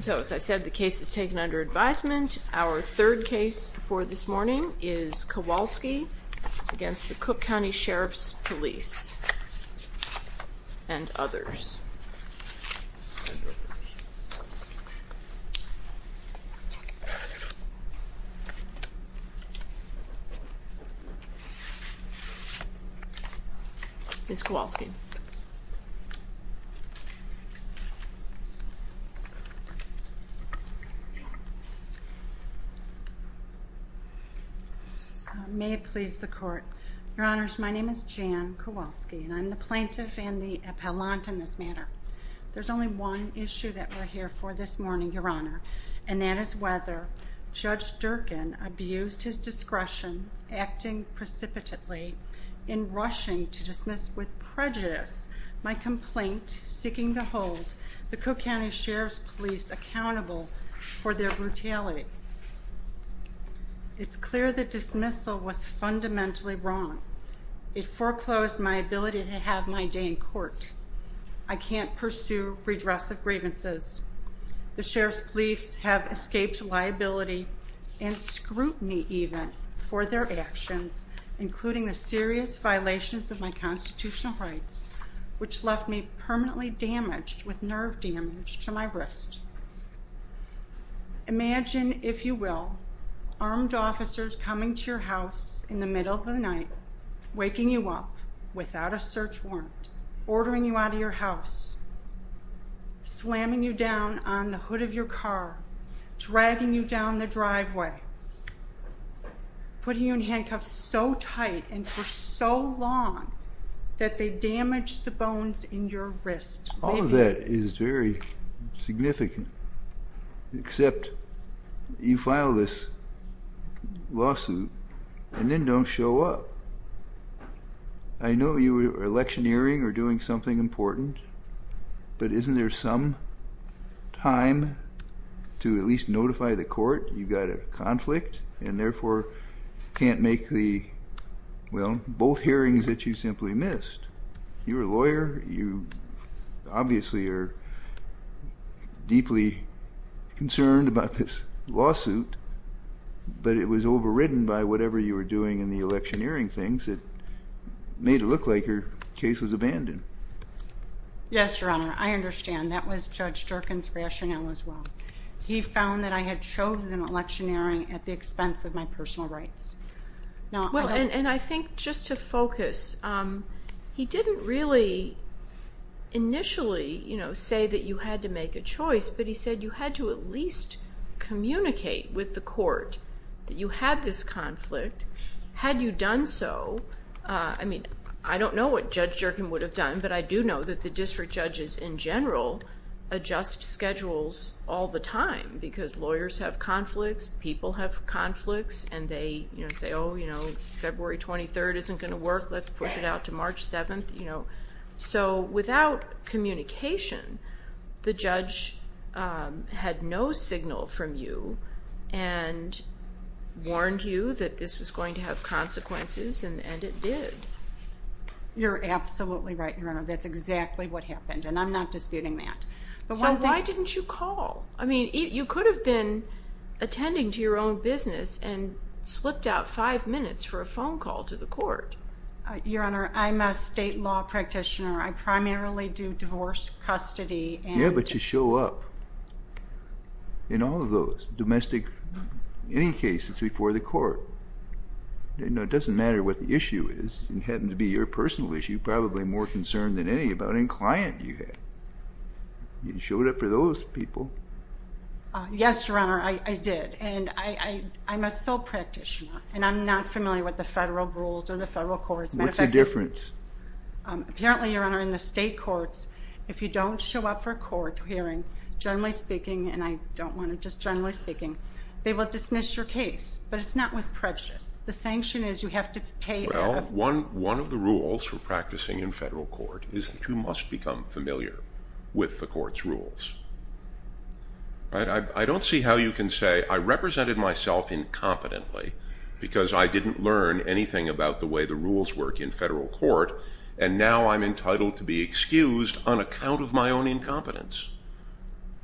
So, as I said, the case is taken under advisement. Our third case for this morning is Kowalski against the Cook County Sheriff's Police and others. Ms. Kowalski. May it please the court. Your Honors, my name is Jan Kowalski, and I'm the plaintiff and the appellant in this matter. There's only one issue that we're here for this morning, Your Honor, and that is whether Judge Durkin abused his discretion, acting precipitately in rushing to dismiss with prejudice my complaint, seeking to hold the plaintiff guilty. The Cook County Sheriff's Police accountable for their brutality. It's clear that dismissal was fundamentally wrong. It foreclosed my ability to have my day in court. I can't pursue redress of grievances. The Sheriff's Police have escaped liability and scrutiny even for their actions, including the serious violations of my constitutional rights, which left me permanently damaged with nerve damage to my wrist. Imagine, if you will, armed officers coming to your house in the middle of the night, waking you up without a search warrant, ordering you out of your house, slamming you down on the hood of your car, dragging you down the driveway, putting you in handcuffs so tight and for so long that they damaged the bones in your wrist. All of that is very significant, except you file this lawsuit and then don't show up. I know you were electioneering or doing something important. But isn't there some time to at least notify the court you've got a conflict and therefore can't make the, well, both hearings that you simply missed? You're a lawyer. You obviously are deeply concerned about this lawsuit, but it was overridden by whatever you were doing in the electioneering things that made it look like your case was abandoned. Yes, Your Honor, I understand. That was Judge Jerkin's rationale as well. He found that I had chosen electioneering at the expense of my personal rights. Well, and I think just to focus, he didn't really initially say that you had to make a choice, but he said you had to at least communicate with the court that you had this conflict. Had you done so, I mean, I don't know what Judge Jerkin would have done, but I do know that the district judges in general adjust schedules all the time because lawyers have conflicts, people have conflicts, and they say, oh, you know, February 23rd isn't going to work. Let's push it out to March 7th. So without communication, the judge had no signal from you and warned you that this was going to have consequences, and it did. You're absolutely right, Your Honor. That's exactly what happened, and I'm not disputing that. So why didn't you call? I mean, you could have been attending to your own business and slipped out five minutes for a phone call to the court. Your Honor, I'm a state law practitioner. I primarily do divorce custody. Yeah, but you show up in all of those, domestic, any cases before the court. It doesn't matter what the issue is. It happened to be your personal issue, probably more concerned than any about any client you had. You showed up for those people. Yes, Your Honor, I did, and I'm a sole practitioner, and I'm not familiar with the federal rules or the federal courts. What's the difference? Apparently, Your Honor, in the state courts, if you don't show up for a court hearing, generally speaking, and I don't want to just generally speaking, they will dismiss your case, but it's not with prejudice. The sanction is you have to pay. Well, one of the rules for practicing in federal court is that you must become familiar with the court's rules. I don't see how you can say, I represented myself incompetently because I didn't learn anything about the way the rules work in federal court, and now I'm entitled to be excused on account of my own incompetence.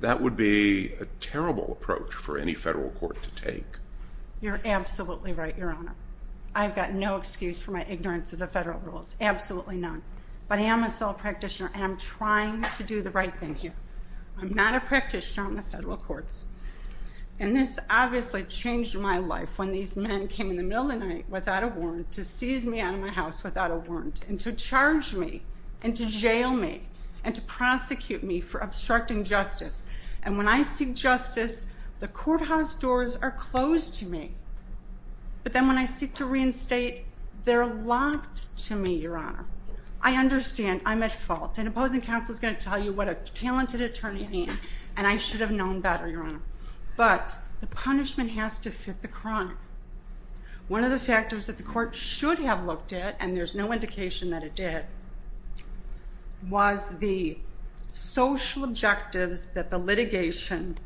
That would be a terrible approach for any federal court to take. You're absolutely right, Your Honor. I've got no excuse for my ignorance of the federal rules, absolutely none. But I am a sole practitioner, and I'm trying to do the right thing here. I'm not a practitioner on the federal courts. And this obviously changed my life when these men came in the middle of the night without a warrant to seize me out of my house without a warrant and to charge me and to jail me and to prosecute me for obstructing justice. And when I seek justice, the courthouse doors are closed to me. But then when I seek to reinstate, they're locked to me, Your Honor. I understand I'm at fault, and opposing counsel is going to tell you what a talented attorney means, and I should have known better, Your Honor. But the punishment has to fit the crime. One of the factors that the court should have looked at, and there's no indication that it did, was the social objectives that the litigation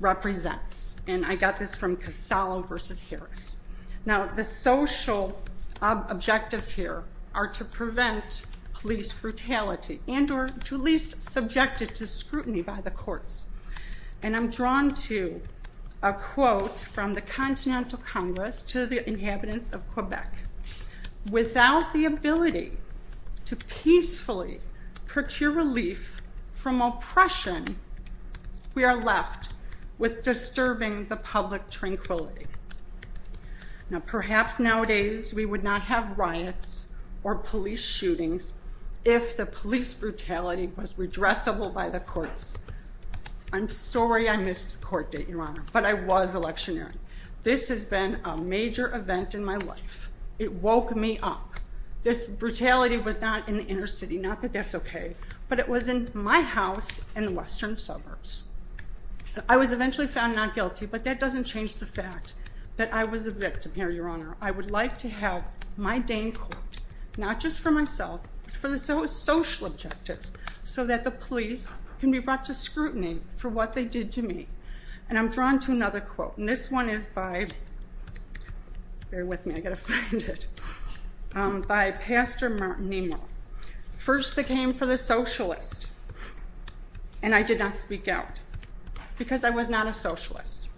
represents. And I got this from Casalo v. Harris. Now, the social objectives here are to prevent police brutality and or to at least subject it to scrutiny by the courts. And I'm drawn to a quote from the Continental Congress to the inhabitants of Quebec. Without the ability to peacefully procure relief from oppression, we are left with disturbing the public tranquility. Now, perhaps nowadays we would not have riots or police shootings if the police brutality was redressable by the courts. I'm sorry I missed the court date, Your Honor, but I was electioneering. This has been a major event in my life. It woke me up. This brutality was not in the inner city, not that that's okay, but it was in my house in the western suburbs. I was eventually found not guilty, but that doesn't change the fact that I was a victim here, Your Honor. I would like to have my Dane court, not just for myself, but for the social objectives, so that the police can be brought to scrutiny for what they did to me. And I'm drawn to another quote, and this one is by, bear with me, I've got to find it, by Pastor Martin Nemo. First they came for the socialist, and I did not speak out because I was not a socialist.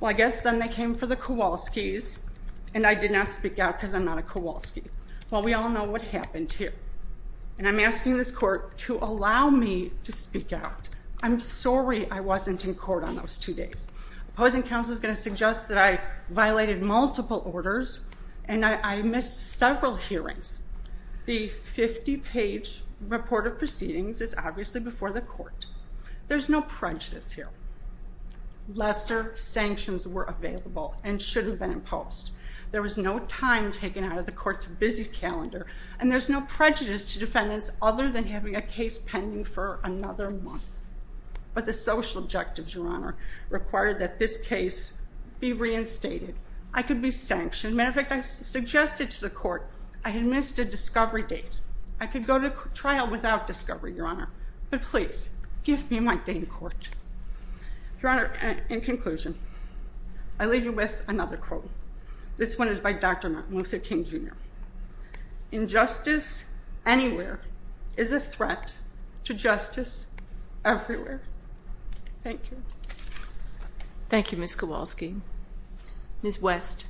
Well, I guess then they came for the Kowalskis, and I did not speak out because I'm not a Kowalski. Well, we all know what happened here, and I'm asking this court to allow me to speak out. I'm sorry I wasn't in court on those two days. Opposing counsel is going to suggest that I violated multiple orders, and I missed several hearings. The 50-page report of proceedings is obviously before the court. There's no prejudice here. Lesser sanctions were available and shouldn't have been imposed. There was no time taken out of the court's busy calendar, and there's no prejudice to defendants other than having a case pending for another month. But the social objectives, Your Honor, required that this case be reinstated. I could be sanctioned. Matter of fact, I suggested to the court I had missed a discovery date. I could go to trial without discovery, Your Honor. But please, give me my Dane court. Your Honor, in conclusion, I leave you with another quote. This one is by Dr. Martin Luther King, Jr. Injustice anywhere is a threat to justice everywhere. Thank you. Thank you, Ms. Kowalski. Ms. West.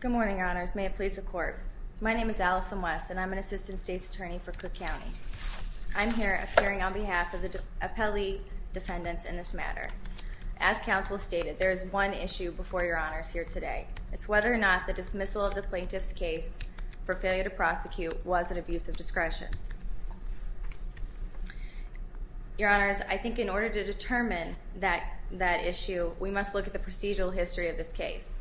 Good morning, Your Honors. May it please the court. My name is Allison West, and I'm an assistant state's attorney for Cook County. I'm here appearing on behalf of the appellee defendants in this matter. As counsel stated, there is one issue before Your Honors here today. It's whether or not the dismissal of the plaintiff's case for failure to prosecute was an abuse of discretion. Your Honors, I think in order to determine that issue, we must look at the procedural history of this case.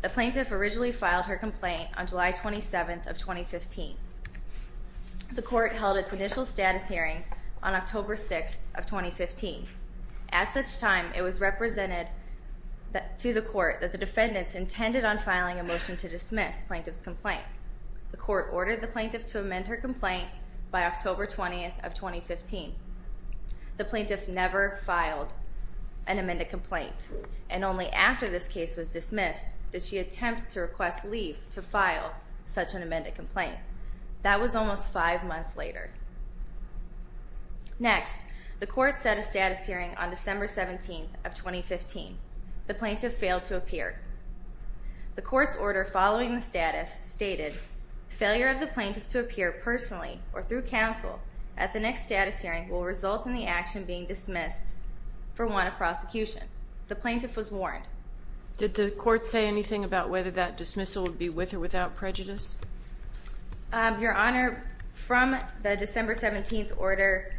The plaintiff originally filed her complaint on July 27th of 2015. The court held its initial status hearing on October 6th of 2015. At such time, it was represented to the court that the defendants intended on filing a motion to dismiss plaintiff's complaint. The court ordered the plaintiff to amend her complaint by October 20th of 2015. The plaintiff never filed an amended complaint. And only after this case was dismissed did she attempt to request leave to file such an amended complaint. That was almost five months later. Next, the court set a status hearing on December 17th of 2015. The plaintiff failed to appear. The court's order following the status stated, Failure of the plaintiff to appear personally or through counsel at the next status hearing will result in the action being dismissed for want of prosecution. The plaintiff was warned. Did the court say anything about whether that dismissal would be with or without prejudice? Your Honor, from the December 17th order,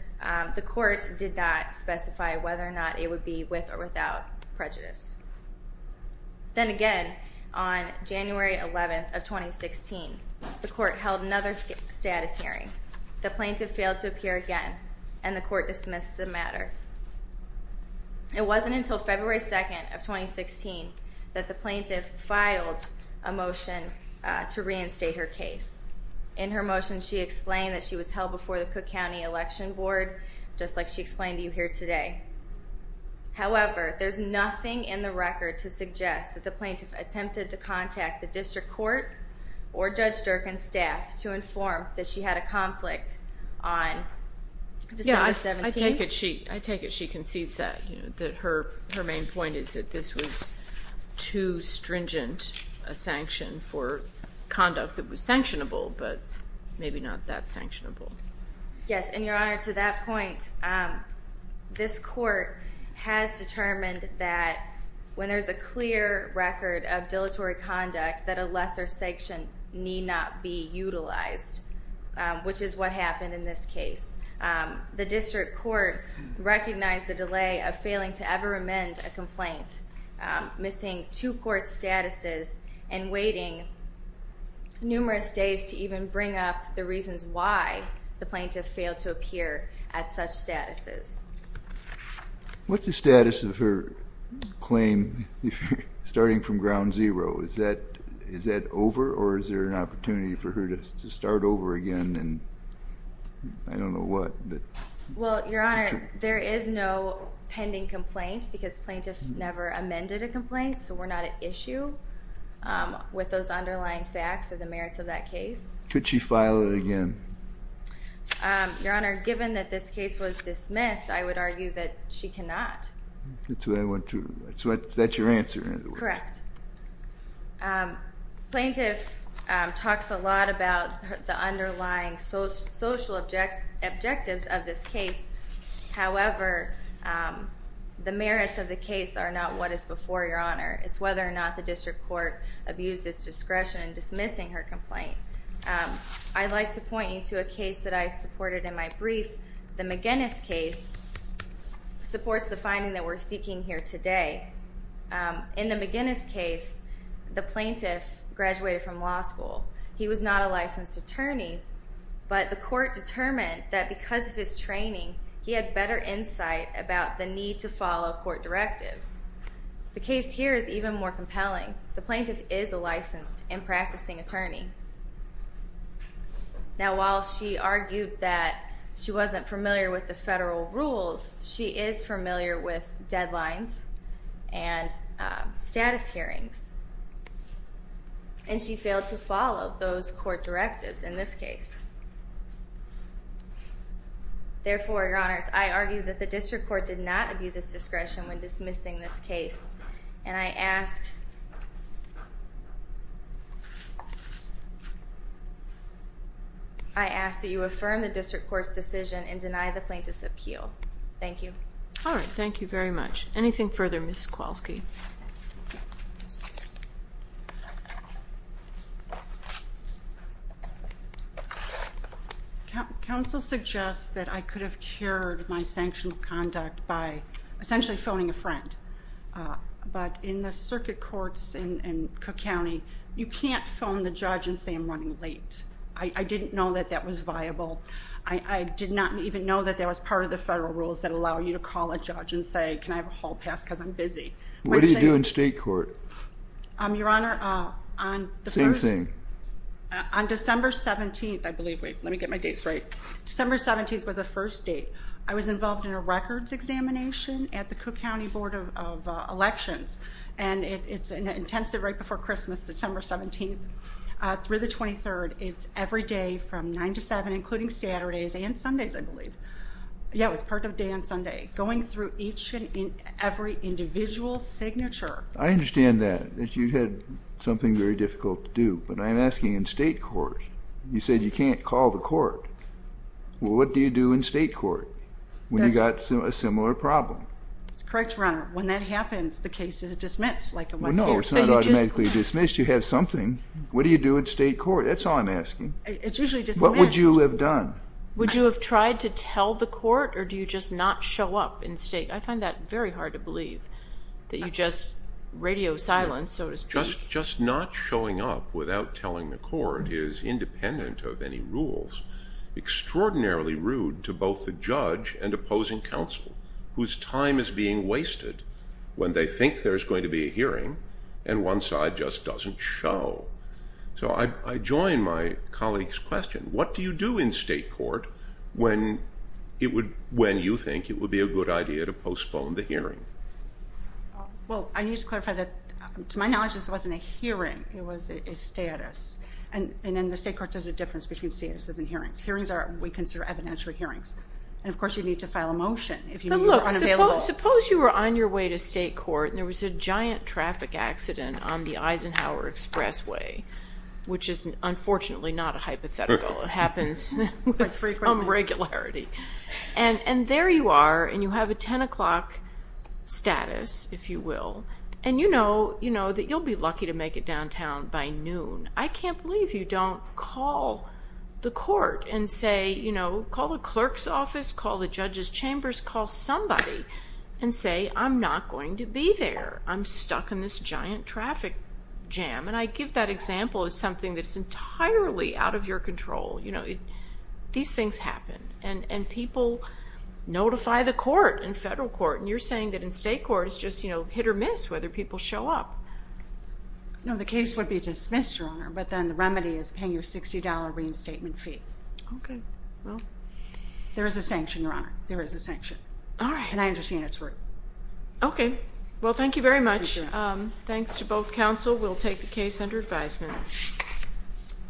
the court did not specify whether or not it would be with or without prejudice. Then again, on January 11th of 2016, the court held another status hearing. The plaintiff failed to appear again, and the court dismissed the matter. It wasn't until February 2nd of 2016 that the plaintiff filed a motion to reinstate her case. In her motion, she explained that she was held before the Cook County Election Board, just like she explained to you here today. However, there's nothing in the record to suggest that the plaintiff attempted to contact the district court or Judge Durkan's staff to inform that she had a conflict on December 17th. I take it she concedes that. Her main point is that this was too stringent a sanction for conduct that was sanctionable, but maybe not that sanctionable. Yes, and Your Honor, to that point, this court has determined that when there's a clear record of dilatory conduct, that a lesser sanction need not be utilized, which is what happened in this case. The district court recognized the delay of failing to ever amend a complaint, missing two court statuses, and waiting numerous days to even bring up the reasons why the plaintiff failed to appear at such statuses. What's the status of her claim starting from ground zero? Is that over, or is there an opportunity for her to start over again, and I don't know what. Well, Your Honor, there is no pending complaint, because plaintiff never amended a complaint, so we're not at issue with those underlying facts or the merits of that case. Could she file it again? Your Honor, given that this case was dismissed, I would argue that she cannot. That's what I want to, that's your answer. Correct. Plaintiff talks a lot about the underlying social objectives of this case. However, the merits of the case are not what is before Your Honor. It's whether or not the district court abused its discretion in dismissing her complaint. I'd like to point you to a case that I supported in my brief. The McGinnis case supports the finding that we're seeking here today. In the McGinnis case, the plaintiff graduated from law school. He was not a licensed attorney, but the court determined that because of his training, he had better insight about the need to follow court directives. The case here is even more compelling. The plaintiff is a licensed and practicing attorney. Now, while she argued that she wasn't familiar with the federal rules, she is familiar with deadlines and status hearings, and she failed to follow those court directives in this case. Therefore, Your Honors, I argue that the district court did not abuse its discretion when dismissing this case, and I ask that you affirm the district court's decision and deny the plaintiff's appeal. Thank you. All right. Thank you very much. Anything further, Ms. Kowalski? Counsel suggests that I could have cured my sanctioned conduct by essentially phoning a friend. But in the circuit courts in Cook County, you can't phone the judge and say, I'm running late. I didn't know that that was viable. I did not even know that that was part of the federal rules that allow you to call a judge and say, can I have a hall pass because I'm busy. What do you do in state court? Your Honor, on the first— Same thing. On December 17th, I believe. Wait, let me get my dates right. December 17th was the first date. I was involved in a records examination at the Cook County Board of Elections. And it's intensive right before Christmas, December 17th through the 23rd. It's every day from 9 to 7, including Saturdays and Sundays, I believe. Yeah, it was part of a day on Sunday, going through each and every individual signature. I understand that, that you had something very difficult to do. But I'm asking in state court. You said you can't call the court. Well, what do you do in state court when you've got a similar problem? That's correct, Your Honor. When that happens, the case is dismissed like it was here. No, it's not automatically dismissed. You have something. What do you do in state court? That's all I'm asking. It's usually dismissed. What would you have done? Would you have tried to tell the court or do you just not show up in state? I find that very hard to believe, that you just radio silence, so to speak. Just not showing up without telling the court is independent of any rules. Extraordinarily rude to both the judge and opposing counsel, whose time is being wasted when they think there's going to be a hearing, and one side just doesn't show. So I join my colleague's question. What do you do in state court when you think it would be a good idea to postpone the hearing? Well, I need to clarify that, to my knowledge, this wasn't a hearing. It was a status. And in the state courts, there's a difference between statuses and hearings. Hearings are what we consider evidential hearings. And, of course, you need to file a motion if you're unavailable. Suppose you were on your way to state court and there was a giant traffic accident on the Eisenhower Expressway, which is unfortunately not a hypothetical. It happens with some regularity. And there you are, and you have a 10 o'clock status, if you will, and you know that you'll be lucky to make it downtown by noon. I can't believe you don't call the court and say, you know, call the clerk's office, call the judge's chambers, call somebody and say, I'm not going to be there. I'm stuck in this giant traffic jam. And I give that example as something that's entirely out of your control. You know, these things happen. And people notify the court in federal court. And you're saying that in state court it's just, you know, hit or miss whether people show up. No, the case would be dismissed, Your Honor. But then the remedy is paying your $60 reinstatement fee. Okay. Well, there is a sanction, Your Honor. There is a sanction. All right. And I understand it's rude. Okay. Well, thank you very much. Appreciate it. Thanks to both counsel. We'll take the case under advisement.